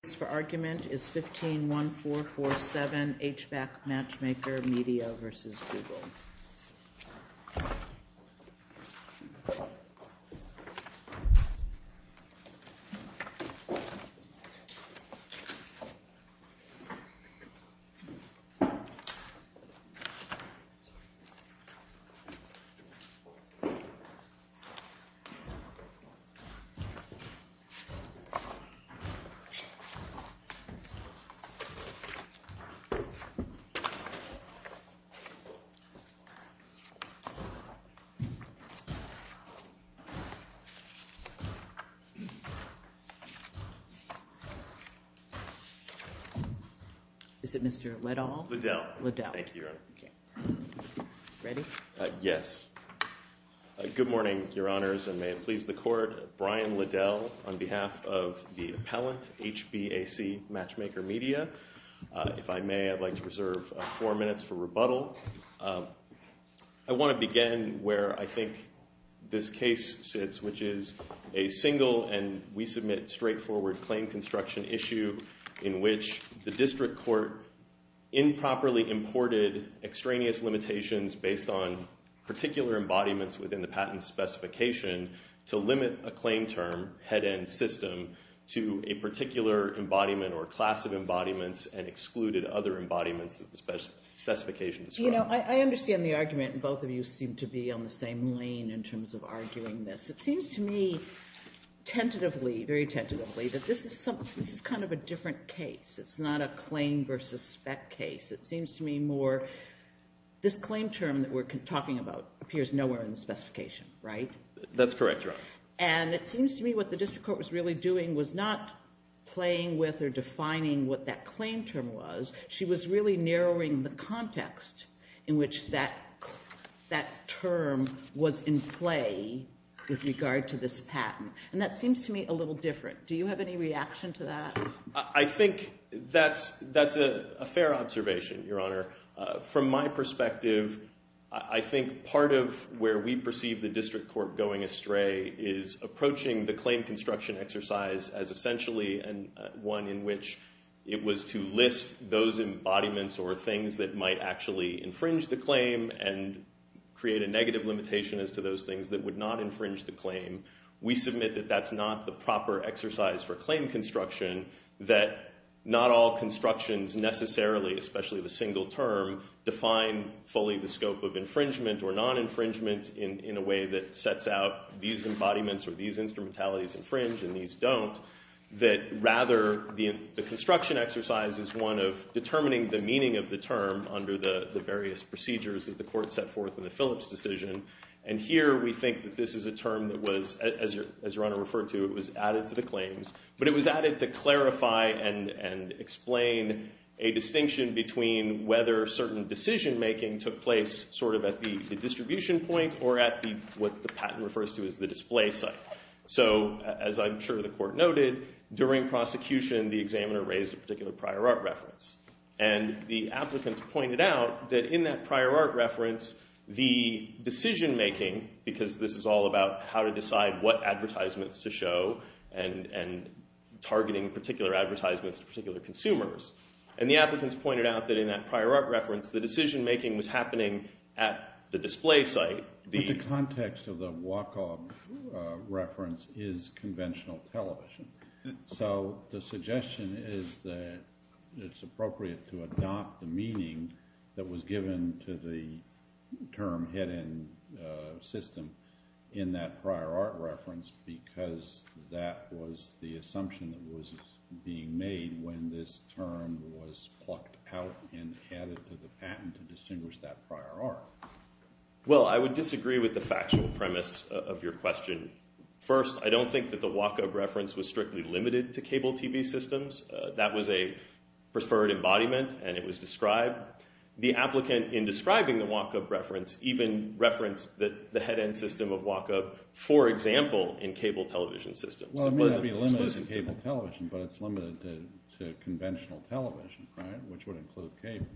The case for argument is 15-1447 HBAC Matchmaker Media v. Google. Is it Mr. Liddell? Liddell. Thank you, Your Honor. Ready? Yes. Good morning, Your Honors, and may it please the Court. Brian Liddell on behalf of the appellant, HBAC Matchmaker Media. If I may, I'd like to reserve four minutes for rebuttal. I want to begin where I think this case sits, which is a single and, we submit, straightforward claim construction issue in which the district court improperly imported extraneous limitations based on particular embodiments within the patent specification to limit a claim term, head-end system, to a particular embodiment or class of embodiments and excluded other embodiments of the specification described. You know, I understand the argument, and both of you seem to be on the same lane in terms of arguing this. It seems to me tentatively, very tentatively, that this is kind of a different case. It's not a claim versus spec case. It seems to me more this claim term that we're talking about appears nowhere in the specification, right? That's correct, Your Honor. And it seems to me what the district court was really doing was not playing with or defining what that claim term was. She was really narrowing the context in which that term was in play with regard to this patent, and that seems to me a little different. Do you have any reaction to that? I think that's a fair observation, Your Honor. From my perspective, I think part of where we perceive the district court going astray is approaching the claim construction exercise as essentially one in which it was to list those embodiments or things that might actually infringe the claim and create a negative limitation as to those things that would not infringe the claim. We submit that that's not the proper exercise for claim construction, that not all constructions necessarily, especially the single term, define fully the scope of infringement or non-infringement in a way that sets out these embodiments or these instrumentalities infringe and these don't, that rather the construction exercise is one of determining the meaning of the term under the various procedures that the court set forth in the Phillips decision. And here we think that this is a term that was, as Your Honor referred to, it was added to the claims, but it was added to clarify and explain a distinction between whether certain decision-making took place sort of at the distribution point or at what the patent refers to as the display site. So as I'm sure the court noted, during prosecution, the examiner raised a particular prior art reference, and the applicants pointed out that in that prior art reference, the decision-making, because this is all about how to decide what advertisements to show and targeting particular advertisements to particular consumers, and the applicants pointed out that in that prior art reference, the decision-making was happening at the display site. The context of the WACOG reference is conventional television, so the suggestion is that it's appropriate to adopt the meaning that was given to the term hidden system in that prior art reference because that was the assumption that was being made when this term was plucked out and added to the patent to distinguish that prior art. Well, I would disagree with the factual premise of your question. First, I don't think that the WACOG reference was strictly limited to cable TV systems. That was a preferred embodiment, and it was described. The applicant, in describing the WACOG reference, even referenced the head-end system of WACOG, for example, in cable television systems. Well, it may not be limited to cable television, but it's limited to conventional television, right, which would include cable.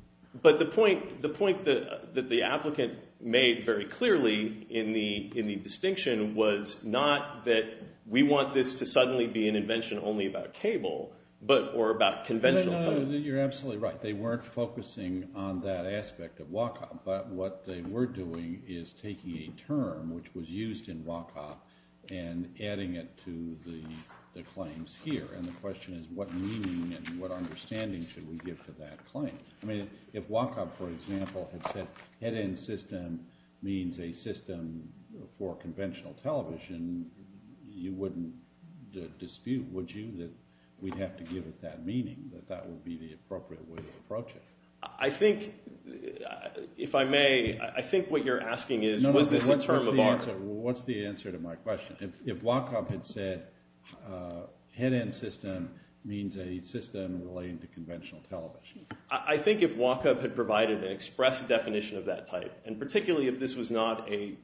But the point that the applicant made very clearly in the distinction was not that we want this to suddenly be an invention only about cable, or about conventional television. You're absolutely right. They weren't focusing on that aspect of WACOG, but what they were doing is taking a term which was used in WACOG and adding it to the claims here, and the question is what meaning and what understanding should we give to that claim? I mean, if WACOG, for example, had said head-end system means a system for conventional television, you wouldn't dispute, would you, that we'd have to give it that meaning, that that would be the appropriate way to approach it? I think, if I may, I think what you're asking is was this a term of art? What's the answer to my question? If WACOG had said head-end system means a system relating to conventional television. I think if WACOG had provided an express definition of that type, and particularly if this was not a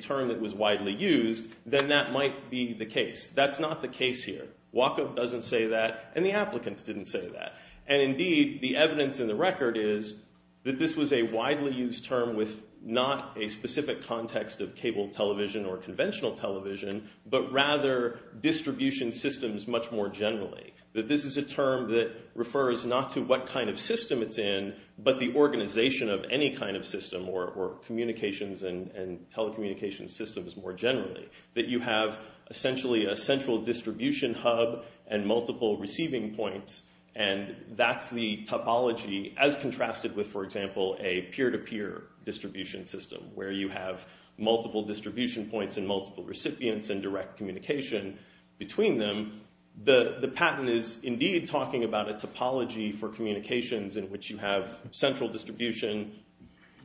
term that was widely used, then that might be the case. That's not the case here. WACOG doesn't say that, and the applicants didn't say that, and, indeed, the evidence in the record is that this was a widely used term with not a specific context of cable television or conventional television, but rather distribution systems much more generally, that this is a term that refers not to what kind of system it's in, but the organization of any kind of system or communications and telecommunications systems more generally, that you have essentially a central distribution hub and multiple receiving points, and that's the topology as contrasted with, for example, a peer-to-peer distribution system where you have multiple distribution points and multiple recipients and direct communication between them. The patent is, indeed, talking about a topology for communications in which you have central distribution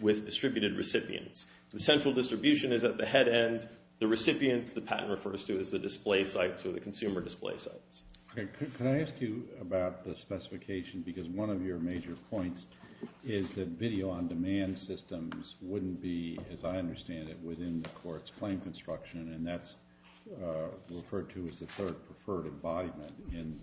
with distributed recipients. The central distribution is at the head end. The recipients, the patent refers to as the display sites or the consumer display sites. Can I ask you about the specification? Because one of your major points is that video-on-demand systems wouldn't be, as I understand it, in the court's claim construction, and that's referred to as the third preferred embodiment in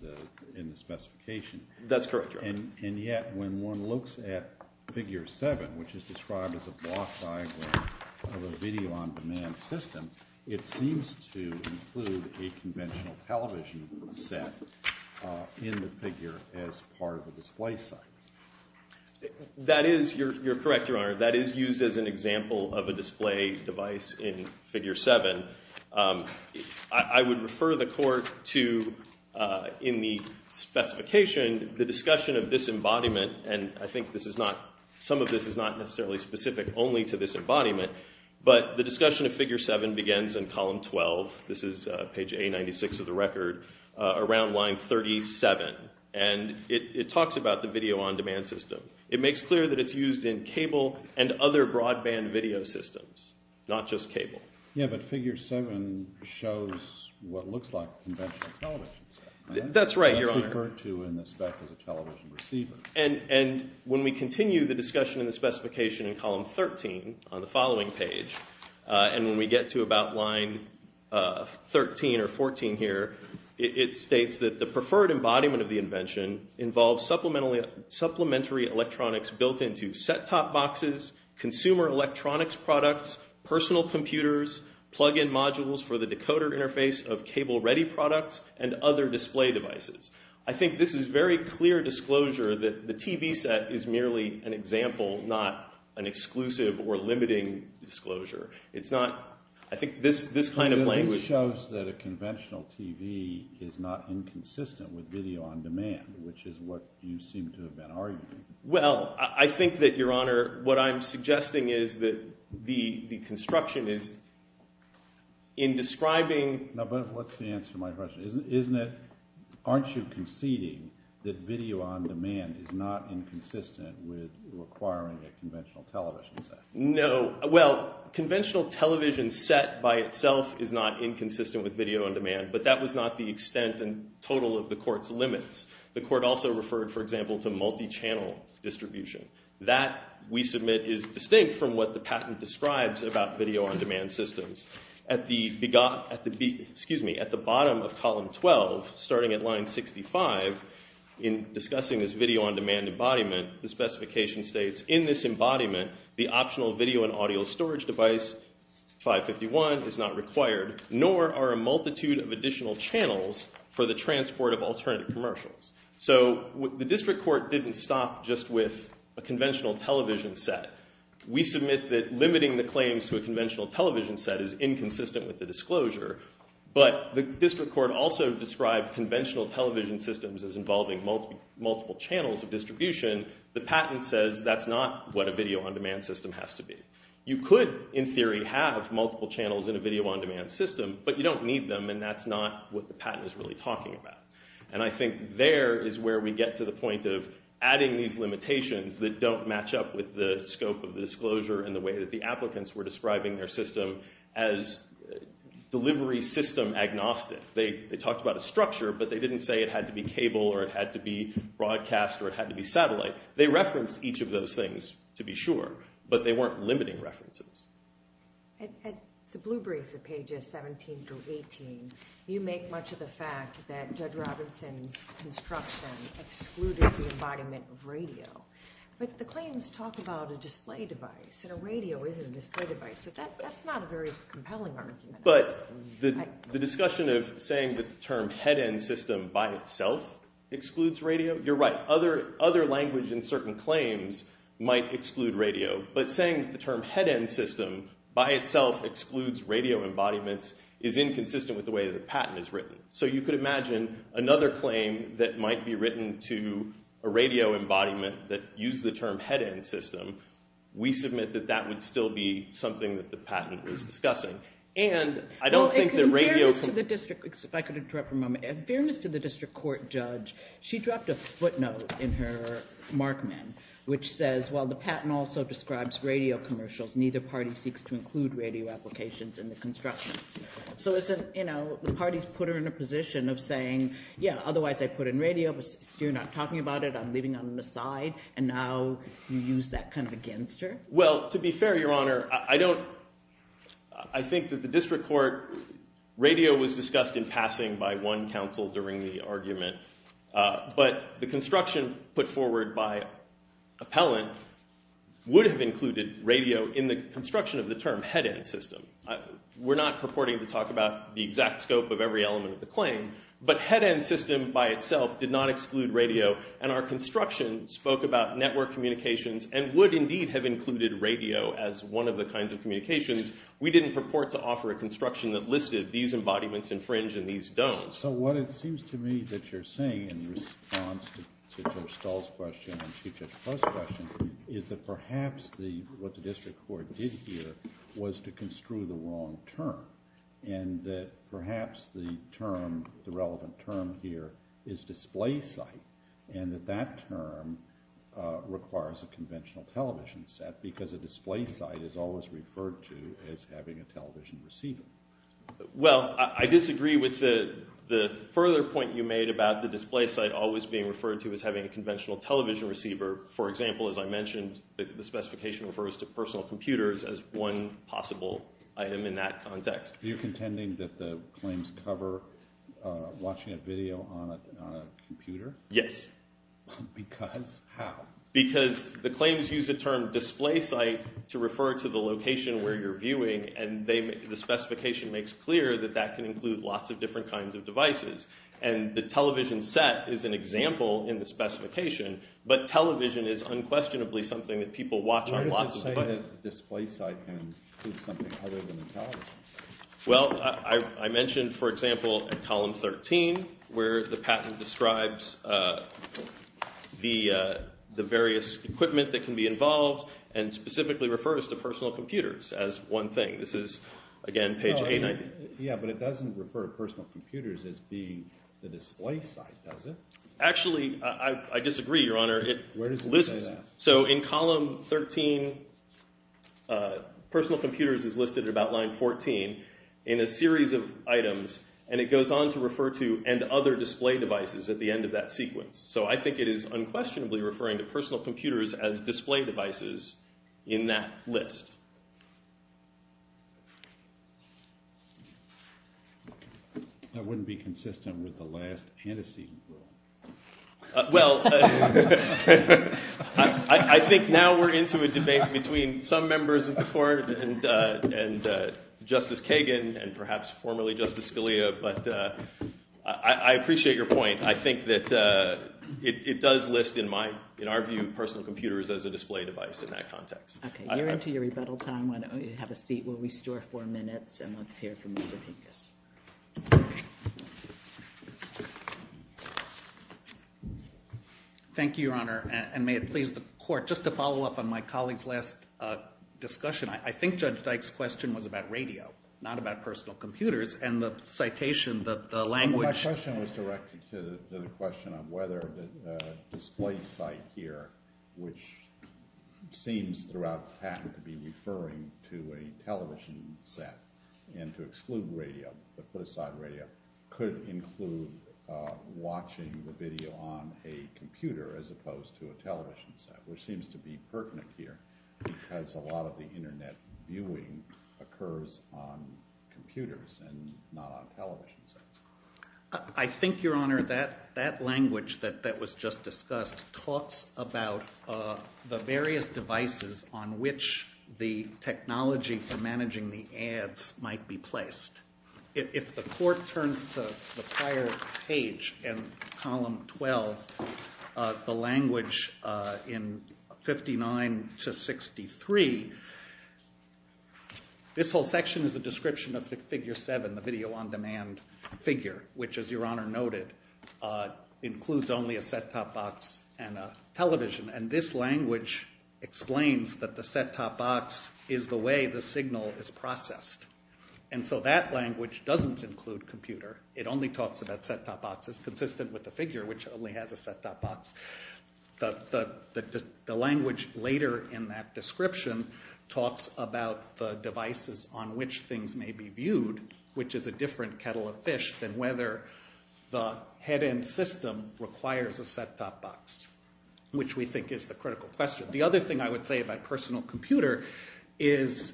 the specification. That's correct, Your Honor. And yet when one looks at Figure 7, which is described as a block diagram of a video-on-demand system, it seems to include a conventional television set in the figure as part of a display site. Your Honor, that is used as an example of a display device in Figure 7. I would refer the court to, in the specification, the discussion of this embodiment, and I think some of this is not necessarily specific only to this embodiment, but the discussion of Figure 7 begins in column 12, this is page A96 of the record, around line 37, and it talks about the video-on-demand system. It makes clear that it's used in cable and other broadband video systems, not just cable. Yeah, but Figure 7 shows what looks like a conventional television set. That's right, Your Honor. That's referred to in the spec as a television receiver. And when we continue the discussion in the specification in column 13 on the following page, and when we get to about line 13 or 14 here, it states that the preferred embodiment of the invention involves supplementary electronics built into set-top boxes, consumer electronics products, personal computers, plug-in modules for the decoder interface of cable-ready products, and other display devices. I think this is very clear disclosure that the TV set is merely an example, not an exclusive or limiting disclosure. It's not, I think, this kind of language. But it shows that a conventional TV is not inconsistent with video-on-demand, which is what you seem to have been arguing. Well, I think that, Your Honor, what I'm suggesting is that the construction is in describing— No, but what's the answer to my question? Isn't it, aren't you conceding that video-on-demand is not inconsistent with acquiring a conventional television set? No, well, conventional television set by itself is not inconsistent with video-on-demand, but that was not the extent and total of the Court's limits. The Court also referred, for example, to multi-channel distribution. That, we submit, is distinct from what the patent describes about video-on-demand systems. At the bottom of column 12, starting at line 65, in discussing this video-on-demand embodiment, the specification states, in this embodiment, the optional video and audio storage device, 551, is not required, nor are a multitude of additional channels for the transport of alternative commercials. So the District Court didn't stop just with a conventional television set. We submit that limiting the claims to a conventional television set is inconsistent with the disclosure. But the District Court also described conventional television systems as involving multiple channels of distribution. The patent says that's not what a video-on-demand system has to be. You could, in theory, have multiple channels in a video-on-demand system, but you don't need them, and that's not what the patent is really talking about. And I think there is where we get to the point of adding these limitations that don't match up with the scope of the disclosure and the way that the applicants were describing their system as delivery system agnostic. They talked about a structure, but they didn't say it had to be cable or it had to be broadcast or it had to be satellite. They referenced each of those things, to be sure, but they weren't limiting references. At the blue brief at pages 17 through 18, you make much of the fact that Judge Robinson's construction excluded the embodiment of radio. But the claims talk about a display device, and a radio is a display device, but that's not a very compelling argument. But the discussion of saying that the term head-end system by itself excludes radio, you're right. Other language in certain claims might exclude radio, but saying the term head-end system by itself excludes radio embodiments is inconsistent with the way that the patent is written. So you could imagine another claim that might be written to a radio embodiment that used the term head-end system. We submit that that would still be something that the patent was discussing. And I don't think that radio – In fairness to the district – if I could interrupt for a moment. In fairness to the district court judge, she dropped a footnote in her markman which says, while the patent also describes radio commercials, neither party seeks to include radio applications in the construction. So isn't, you know, the parties put her in a position of saying, yeah, otherwise I'd put in radio, but you're not talking about it, I'm leaving it on the side, and now you use that kind of against her? Well, to be fair, Your Honor, I don't – I think that the district court – radio was discussed in passing by one counsel during the argument. But the construction put forward by appellant would have included radio in the construction of the term head-end system. We're not purporting to talk about the exact scope of every element of the claim, but head-end system by itself did not exclude radio, and our construction spoke about network communications and would indeed have included radio as one of the kinds of communications. We didn't purport to offer a construction that listed these embodiments infringe and these don't. So what it seems to me that you're saying in response to Judge Stahl's question and Chief Judge Post's question is that perhaps what the district court did here was to construe the wrong term and that perhaps the term – the relevant term here is display site and that that term requires a conventional television set because a display site is always referred to as having a television receiver. Well, I disagree with the further point you made about the display site always being referred to as having a conventional television receiver. For example, as I mentioned, the specification refers to personal computers as one possible item in that context. Are you contending that the claims cover watching a video on a computer? Yes. Because? How? Because the claims use the term display site to refer to the location where you're viewing, and the specification makes clear that that can include lots of different kinds of devices. And the television set is an example in the specification, but television is unquestionably something that people watch on lots of devices. Why does it say that the display site can include something other than a television set? Well, I mentioned, for example, column 13 where the patent describes the various equipment that can be involved and specifically refers to personal computers as one thing. This is, again, page 890. Yeah, but it doesn't refer to personal computers as being the display site, does it? Actually, I disagree, Your Honor. Where does it say that? So in column 13, personal computers is listed at about line 14 in a series of items, and it goes on to refer to and other display devices at the end of that sequence. So I think it is unquestionably referring to personal computers as display devices in that list. That wouldn't be consistent with the last antecedent rule. Well, I think now we're into a debate between some members of the Court and Justice Kagan and perhaps formerly Justice Scalia, but I appreciate your point. I think that it does list, in our view, personal computers as a display device in that context. Okay, you're into your rebuttal time. Why don't we have a seat where we store four minutes, and let's hear from Mr. Pincus. Thank you, Your Honor, and may it please the Court, just to follow up on my colleague's last discussion. I think Judge Dyke's question was about radio, not about personal computers, and the citation, the language— the question of whether the display site here, which seems throughout the patent to be referring to a television set and to exclude radio, but put aside radio, could include watching the video on a computer as opposed to a television set, which seems to be pertinent here because a lot of the Internet viewing occurs on computers and not on television sets. I think, Your Honor, that language that was just discussed talks about the various devices on which the technology for managing the ads might be placed. If the Court turns to the prior page in Column 12, the language in 59 to 63, this whole section is a description of Figure 7, the video-on-demand figure, which, as Your Honor noted, includes only a set-top box and a television, and this language explains that the set-top box is the way the signal is processed. And so that language doesn't include computer. It only talks about set-top boxes, consistent with the figure, which only has a set-top box. The language later in that description talks about the devices on which things may be viewed, which is a different kettle of fish than whether the head-end system requires a set-top box, which we think is the critical question. The other thing I would say about personal computer is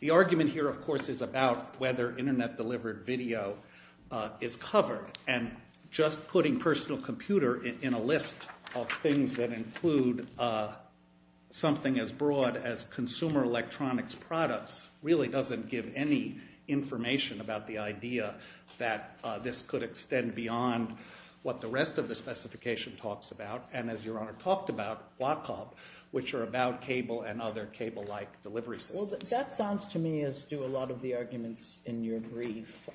the argument here, of course, is about whether Internet-delivered video is covered, and just putting personal computer in a list of things that include something as broad as consumer electronics products really doesn't give any information about the idea that this could extend beyond what the rest of the specification talks about, and as Your Honor talked about, WACOP, which are about cable and other cable-like delivery systems. Well, that sounds to me, as do a lot of the arguments in your brief,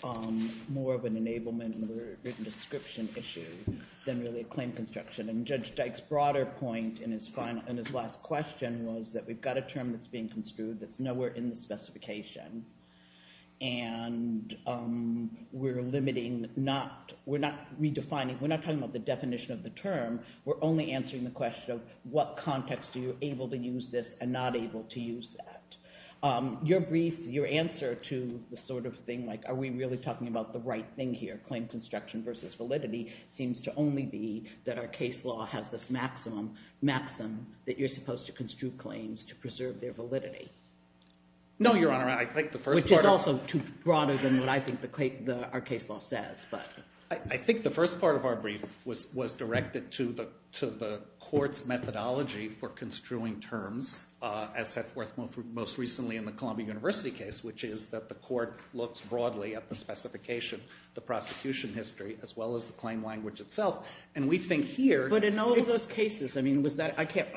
more of an enablement or a written description issue than really a claim construction. And Judge Dyke's broader point in his last question was that we've got a term that's being construed that's nowhere in the specification, and we're limiting, we're not redefining, we're not talking about the definition of the term. We're only answering the question of what context are you able to use this and not able to use that. Your brief, your answer to the sort of thing like, are we really talking about the right thing here, claim construction versus validity, seems to only be that our case law has this maximum that you're supposed to construe claims to preserve their validity. No, Your Honor, I think the first part of... Which is also too broader than what I think our case law says, but... I think the first part of our brief was directed to the court's methodology for construing terms, as set forth most recently in the Columbia University case, which is that the court looks broadly at the specification, the prosecution history, as well as the claim language itself, and we think here... But in all of those cases, I mean, was that, I can't,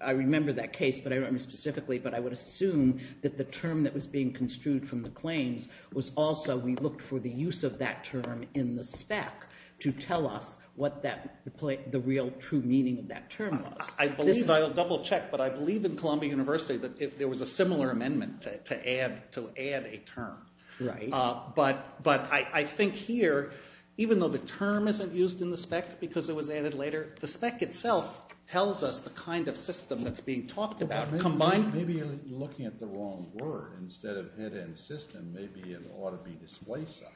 I remember that case, but I don't remember specifically, but I would assume that the term that was being construed from the claims was also, we looked for the use of that term in the spec to tell us what the real true meaning of that term was. I believe, I'll double check, but I believe in Columbia University that there was a similar amendment to add a term. Right. But I think here, even though the term isn't used in the spec because it was added later, the spec itself tells us the kind of system that's being talked about. Maybe you're looking at the wrong word. Instead of head-end system, maybe it ought to be display side.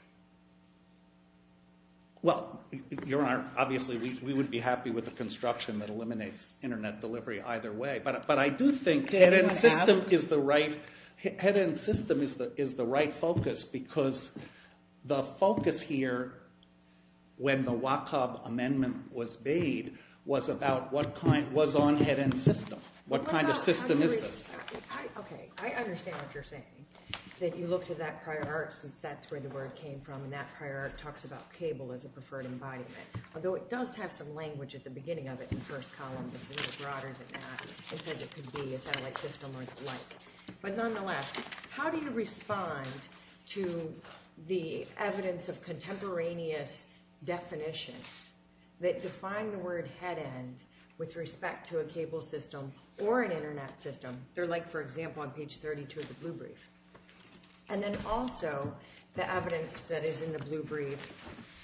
Well, Your Honor, obviously we would be happy with a construction that eliminates internet delivery either way, but I do think head-end system is the right focus because the focus here, when the WACAB amendment was made, was about what kind, was on head-end system. What kind of system is this? Okay, I understand what you're saying, that you looked at that prior art since that's where the word came from, and that prior art talks about cable as a preferred embodiment, although it does have some language at the beginning of it in the first column that's a little broader than that. It says it could be a satellite system or the like, but nonetheless, how do you respond to the evidence of contemporaneous definitions that define the word head-end with respect to a cable system or an internet system? They're like, for example, on page 32 of the blue brief. And then also, the evidence that is in the blue brief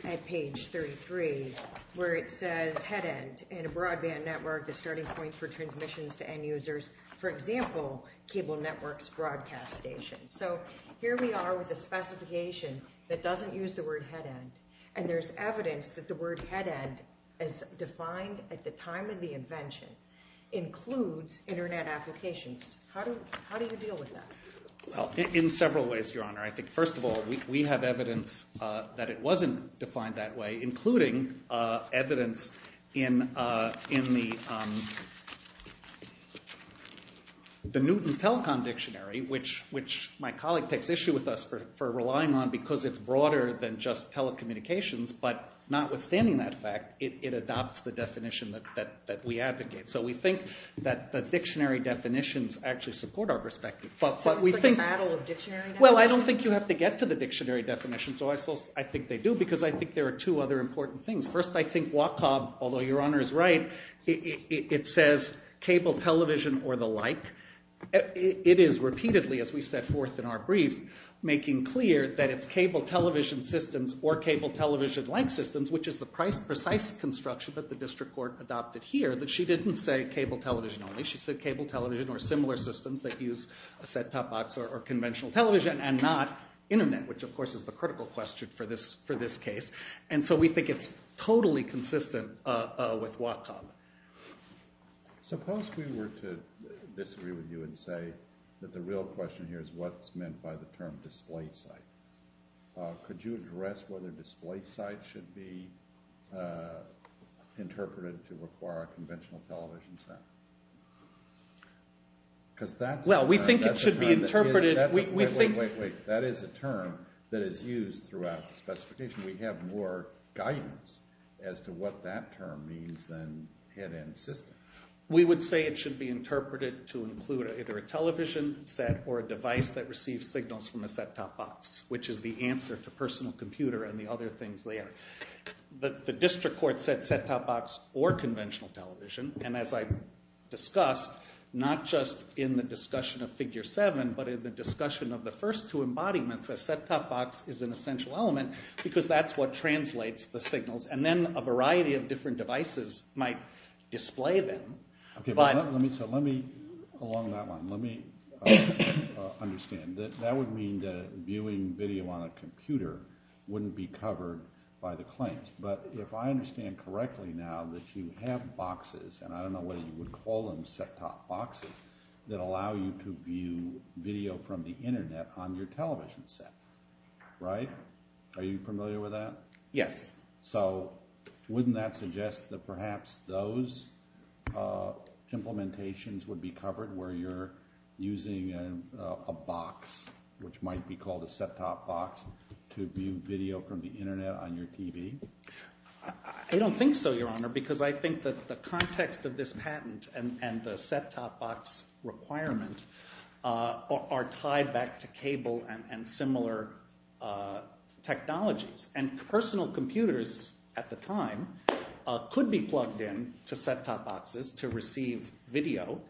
at page 33, where it says head-end in a broadband network, the starting point for transmissions to end users, for example, cable networks broadcast stations. So here we are with a specification that doesn't use the word head-end, and there's evidence that the word head-end, as defined at the time of the invention, includes internet applications. How do you deal with that? Well, in several ways, Your Honor. I think, first of all, we have evidence that it wasn't defined that way, including evidence in the Newton's Telecom Dictionary, which my colleague takes issue with us for relying on, because it's broader than just telecommunications. But notwithstanding that fact, it adopts the definition that we advocate. So we think that the dictionary definitions actually support our perspective. So it's like a battle of dictionary definitions? Well, I don't think you have to get to the dictionary definitions. I think they do, because I think there are two other important things. First, I think WACAB, although Your Honor is right, it says cable, television, or the like. It is repeatedly, as we set forth in our brief, making clear that it's cable television systems or cable television-like systems, which is the precise construction that the district court adopted here, that she didn't say cable television only. She said cable television or similar systems that use a set-top box or conventional television and not internet, which, of course, is the critical question for this case. And so we think it's totally consistent with WACAB. Suppose we were to disagree with you and say that the real question here is what's meant by the term display site. Could you address whether display site should be interpreted to require a conventional television set? Well, we think it should be interpreted. Wait, wait, wait. That is a term that is used throughout the specification. We have more guidance as to what that term means than head-end system. We would say it should be interpreted to include either a television set or a device that receives signals from a set-top box, which is the answer to personal computer and the other things there. The district court said set-top box or conventional television, and as I discussed, not just in the discussion of Figure 7, but in the discussion of the first two embodiments, a set-top box is an essential element because that's what translates the signals. And then a variety of different devices might display them. Okay, so let me, along that line, let me understand. That would mean that viewing video on a computer wouldn't be covered by the claims. But if I understand correctly now that you have boxes, and I don't know whether you would call them set-top boxes, that allow you to view video from the Internet on your television set, right? Are you familiar with that? Yes. So wouldn't that suggest that perhaps those implementations would be covered where you're using a box, which might be called a set-top box, to view video from the Internet on your TV? I don't think so, Your Honor, because I think that the context of this patent and the set-top box requirement are tied back to cable and similar technologies. And personal computers at the time could be plugged in to set-top boxes to receive video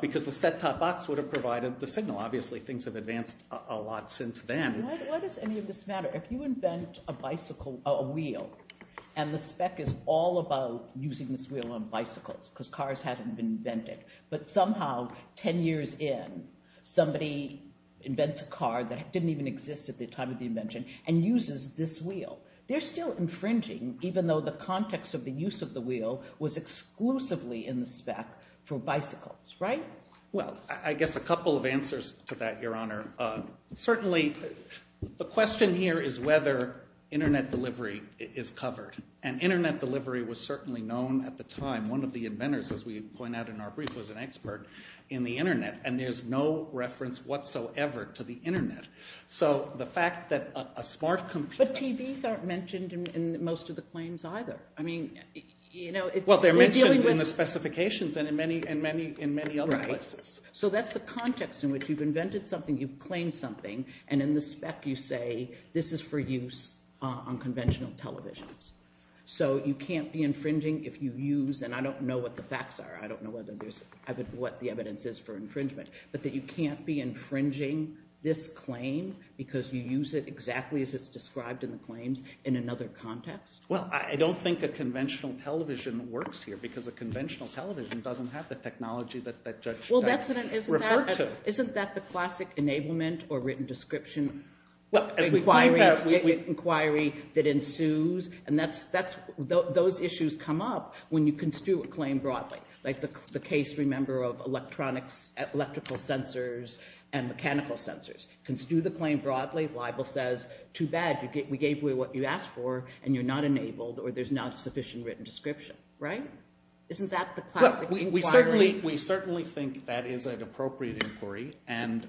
because the set-top box would have provided the signal. Obviously, things have advanced a lot since then. Why does any of this matter? If you invent a bicycle, a wheel, and the spec is all about using this wheel on bicycles because cars haven't been invented, but somehow 10 years in, somebody invents a car that didn't even exist at the time of the invention and uses this wheel, they're still infringing even though the context of the use of the wheel was exclusively in the spec for bicycles, right? Well, I guess a couple of answers to that, Your Honor. Certainly, the question here is whether Internet delivery is covered. And Internet delivery was certainly known at the time. One of the inventors, as we point out in our brief, was an expert in the Internet, and there's no reference whatsoever to the Internet. So the fact that a smart computer... But TVs aren't mentioned in most of the claims either. I mean, you know, it's... Well, they're mentioned in the specifications and in many other places. Right. So that's the context in which you've invented something, you've claimed something, and in the spec you say this is for use on conventional televisions. So you can't be infringing if you use, and I don't know what the facts are, I don't know what the evidence is for infringement, but that you can't be infringing this claim because you use it exactly as it's described in the claims in another context? Well, I don't think a conventional television works here because a conventional television doesn't have the technology that Judge... Well, isn't that the classic enablement or written description inquiry that ensues, and those issues come up when you construe a claim broadly, like the case, remember, of electrical sensors and mechanical sensors. Construe the claim broadly, libel says, too bad, we gave you what you asked for and you're not enabled or there's not a sufficient written description, right? Isn't that the classic inquiry? We certainly think that is an appropriate inquiry, and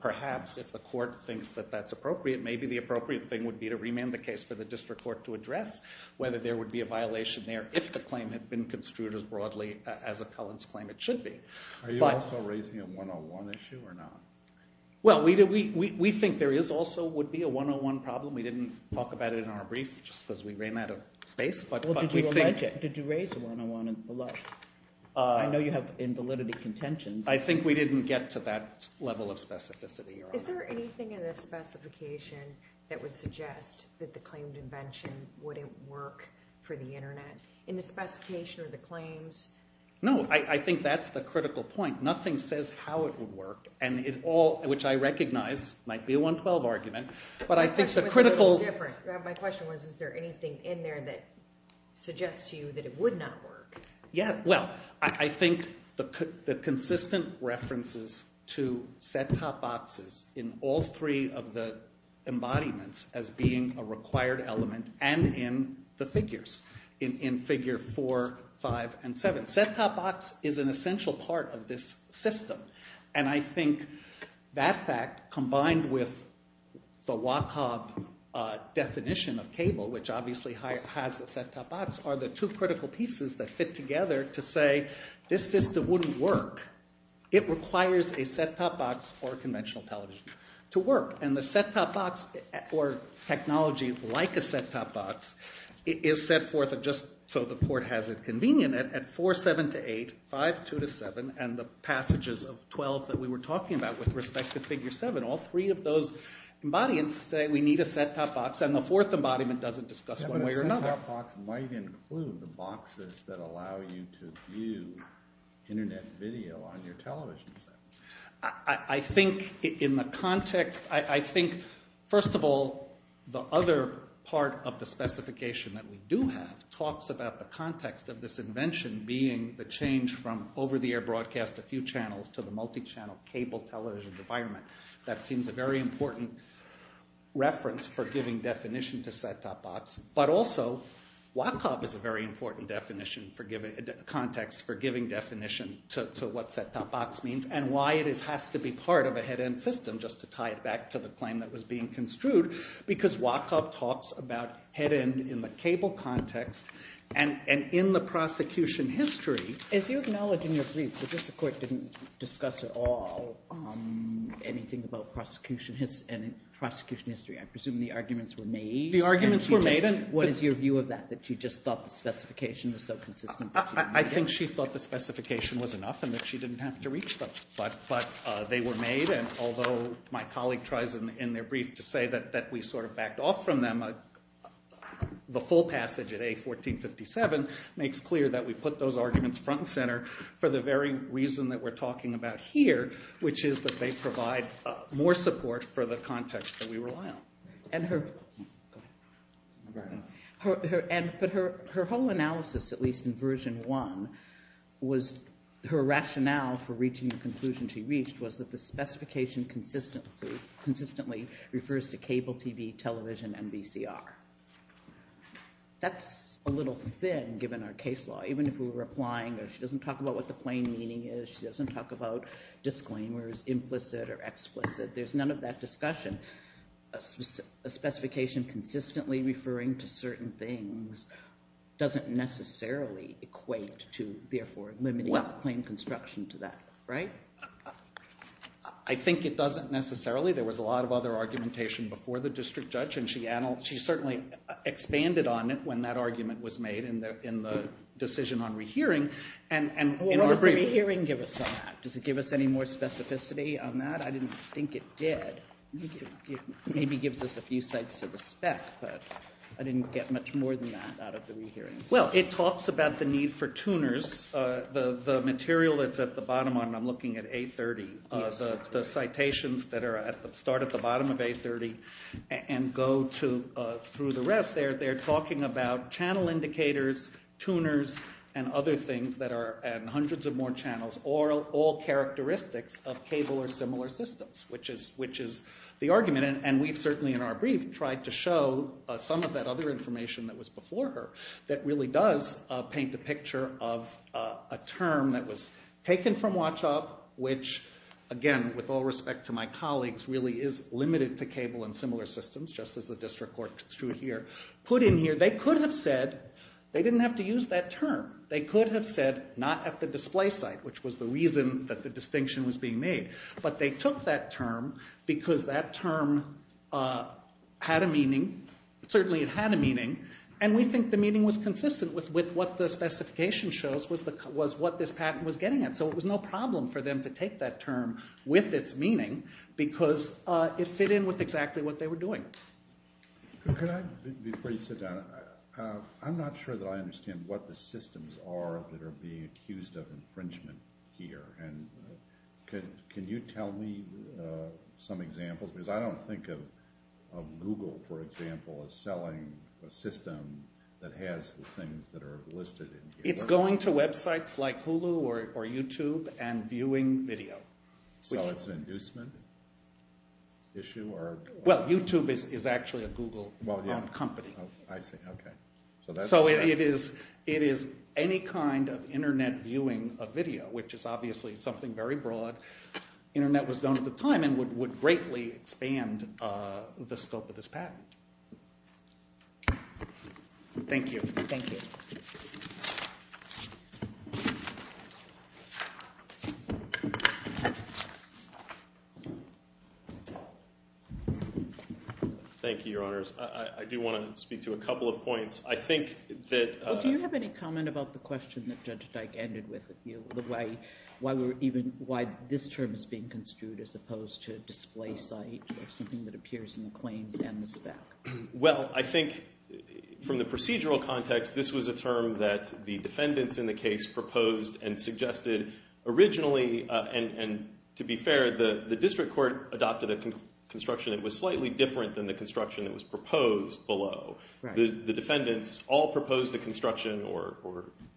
perhaps if the court thinks that that's appropriate, maybe the appropriate thing would be to remand the case for the district court to address whether there would be a violation there if the claim had been construed as broadly as a Collins claim it should be. Are you also raising a 101 issue or not? Well, we think there also would be a 101 problem. We didn't talk about it in our brief just because we ran out of space. Well, did you allege it? Did you raise a 101 below? I know you have invalidity contentions. I think we didn't get to that level of specificity. Is there anything in the specification that would suggest that the claimed invention wouldn't work for the Internet? In the specification or the claims? No, I think that's the critical point. Nothing says how it would work, which I recognize might be a 112 argument. My question was, is there anything in there that suggests to you that it would not work? Yeah, well, I think the consistent references to set-top boxes in all three of the embodiments as being a required element and in the figures, in figure 4, 5, and 7. Set-top box is an essential part of this system, and I think that fact combined with the WACOB definition of cable, which obviously has a set-top box, are the two critical pieces that fit together to say this system wouldn't work. It requires a set-top box or a conventional television to work, and the set-top box or technology like a set-top box is set forth just so the court has it convenient at 4, 7 to 8, 5, 2 to 7, and the passages of 12 that we were talking about with respect to figure 7. All three of those embodiments say we need a set-top box, and the fourth embodiment doesn't discuss one way or another. The set-top box might include the boxes that allow you to view Internet video on your television set. I think in the context, I think, first of all, the other part of the specification that we do have talks about the context of this invention being the change from over-the-air broadcast a few channels to the multi-channel cable television environment. That seems a very important reference for giving definition to set-top box, but also WACOP is a very important definition for giving context for giving definition to what set-top box means and why it has to be part of a head-end system just to tie it back to the claim that was being construed because WACOP talks about head-end in the cable context and in the prosecution history. As you acknowledge in your brief, the district court didn't discuss at all anything about prosecution history. I presume the arguments were made. The arguments were made. What is your view of that, that you just thought the specification was so consistent that you made it? I think she thought the specification was enough and that she didn't have to reach them. But they were made, and although my colleague tries in their brief to say that we sort of backed off from them, the full passage at A1457 makes clear that we put those arguments front and center for the very reason that we're talking about here, which is that they provide more support for the context that we rely on. But her whole analysis, at least in version one, was her rationale for reaching the conclusion she reached was that the specification consistently refers to cable TV, television, and VCR. That's a little thin, given our case law. Even if we were applying, she doesn't talk about what the plain meaning is, she doesn't talk about disclaimers, implicit or explicit. There's none of that discussion. A specification consistently referring to certain things doesn't necessarily equate to, therefore, limiting the claim construction to that. Right? I think it doesn't necessarily. There was a lot of other argumentation before the district judge, and she certainly expanded on it when that argument was made in the decision on rehearing. What does the re-hearing give us on that? Does it give us any more specificity on that? I didn't think it did. It maybe gives us a few sites of respect, but I didn't get much more than that out of the re-hearing. Well, it talks about the need for tuners. The material that's at the bottom, I'm looking at A30, the citations that start at the bottom of A30 and go through the rest there, they're talking about channel indicators, tuners and other things and hundreds of more channels, all characteristics of cable or similar systems, which is the argument. And we've certainly, in our brief, tried to show some of that other information that was before her that really does paint a picture of a term that was taken from WATCH-UP, which, again, with all respect to my colleagues, really is limited to cable and similar systems, just as the district court construed here, put in here. They could have said they didn't have to use that term. They could have said not at the display site, which was the reason that the distinction was being made, but they took that term because that term had a meaning. Certainly it had a meaning, and we think the meaning was consistent with what the specification shows was what this patent was getting at. So it was no problem for them to take that term with its meaning because it fit in with exactly what they were doing. Before you sit down, I'm not sure that I understand what the systems are that are being accused of infringement here. Can you tell me some examples? Because I don't think of Google, for example, as selling a system that has the things that are listed in here. It's going to websites like Hulu or YouTube and viewing video. So it's an inducement issue? Well, YouTube is actually a Google-owned company. I see. Okay. So it is any kind of Internet viewing of video, which is obviously something very broad. Internet was known at the time and would greatly expand the scope of this patent. Thank you. Thank you. Thank you, Your Honors. I do want to speak to a couple of points. I think that... Well, do you have any comment about the question that Judge Dyke ended with, the way why this term is being construed as opposed to a display site or something that appears in the claims and the spec? Well, I think from the procedural context, this was a term that the defendants in the case proposed and suggested originally, and to be fair, the district court adopted a construction that was slightly different than the construction that was proposed below. The defendants all proposed the construction or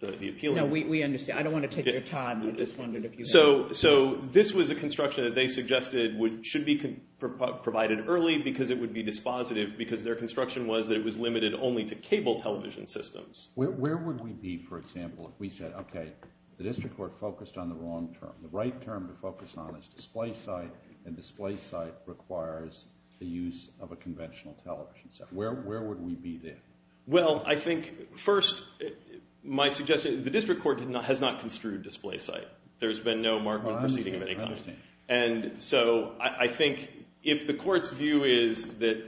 the appeal. No, we understand. I don't want to take your time. I just wondered if you... So this was a construction that they suggested should be provided early because it would be dispositive because their construction was that it was limited only to cable television systems. Where would we be, for example, if we said, okay, the district court focused on the wrong term. The right term to focus on is display site, and display site requires the use of a conventional television set. Where would we be then? Well, I think, first, my suggestion, the district court has not construed display site. There's been no market proceeding of any kind. I understand. And so I think if the court's view is that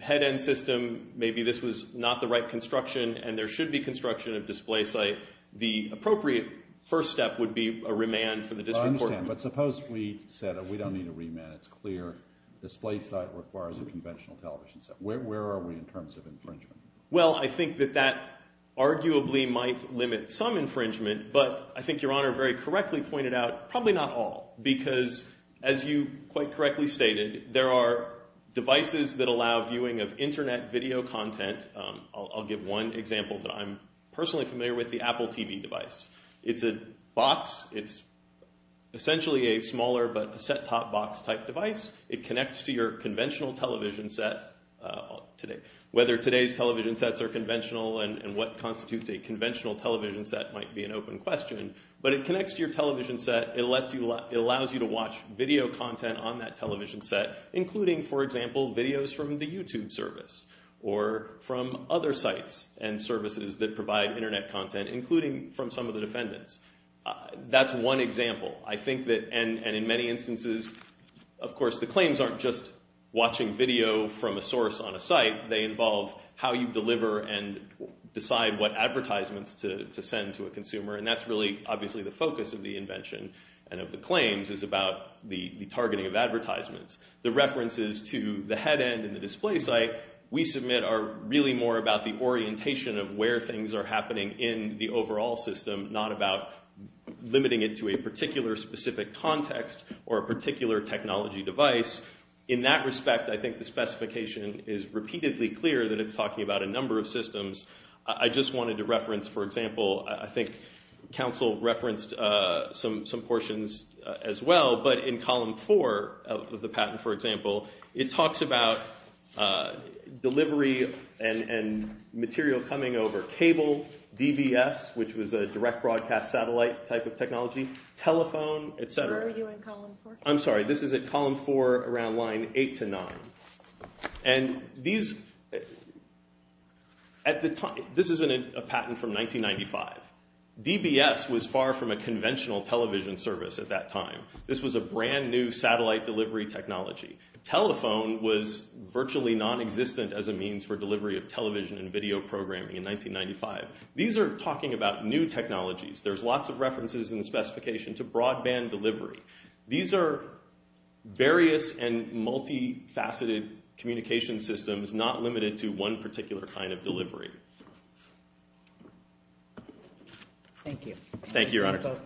head-end system, maybe this was not the right construction and there should be construction of display site, the appropriate first step would be a remand for the district court. I understand, but suppose we said, oh, we don't need a remand, it's clear. Display site requires a conventional television set. Where are we in terms of infringement? Well, I think that that arguably might limit some infringement, but I think Your Honor very correctly pointed out probably not all because, as you quite correctly stated, there are devices that allow viewing of Internet video content. I'll give one example that I'm personally familiar with, the Apple TV device. It's a box. It's essentially a smaller but a set-top box type device. It connects to your conventional television set. Whether today's television sets are conventional and what constitutes a conventional television set might be an open question, but it connects to your television set. It allows you to watch video content on that television set, including, for example, videos from the YouTube service or from other sites and services that provide Internet content, including from some of the defendants. That's one example. I think that, and in many instances, of course, the claims aren't just watching video from a source on a site. They involve how you deliver and decide what advertisements to send to a consumer, and that's really obviously the focus of the invention and of the claims is about the targeting of advertisements. The references to the head end and the display site we submit are really more about the orientation of where things are happening in the overall system, not about limiting it to a particular specific context or a particular technology device. In that respect, I think the specification is repeatedly clear that it's talking about a number of systems. I just wanted to reference, for example, I think counsel referenced some portions as well, but in column 4 of the patent, for example, it talks about delivery and material coming over cable, DBS, which was a direct broadcast satellite type of technology, telephone, et cetera. Where are you in column 4? I'm sorry, this is at column 4 around line 8 to 9. And these... This is a patent from 1995. DBS was far from a conventional television service at that time. This was a brand new satellite delivery technology. Telephone was virtually nonexistent as a means for delivery of television and video programming in 1995. These are talking about new technologies. There's lots of references in the specification to broadband delivery. These are various and multifaceted communication systems not limited to one particular kind of delivery. Thank you. Thank you, Your Honor.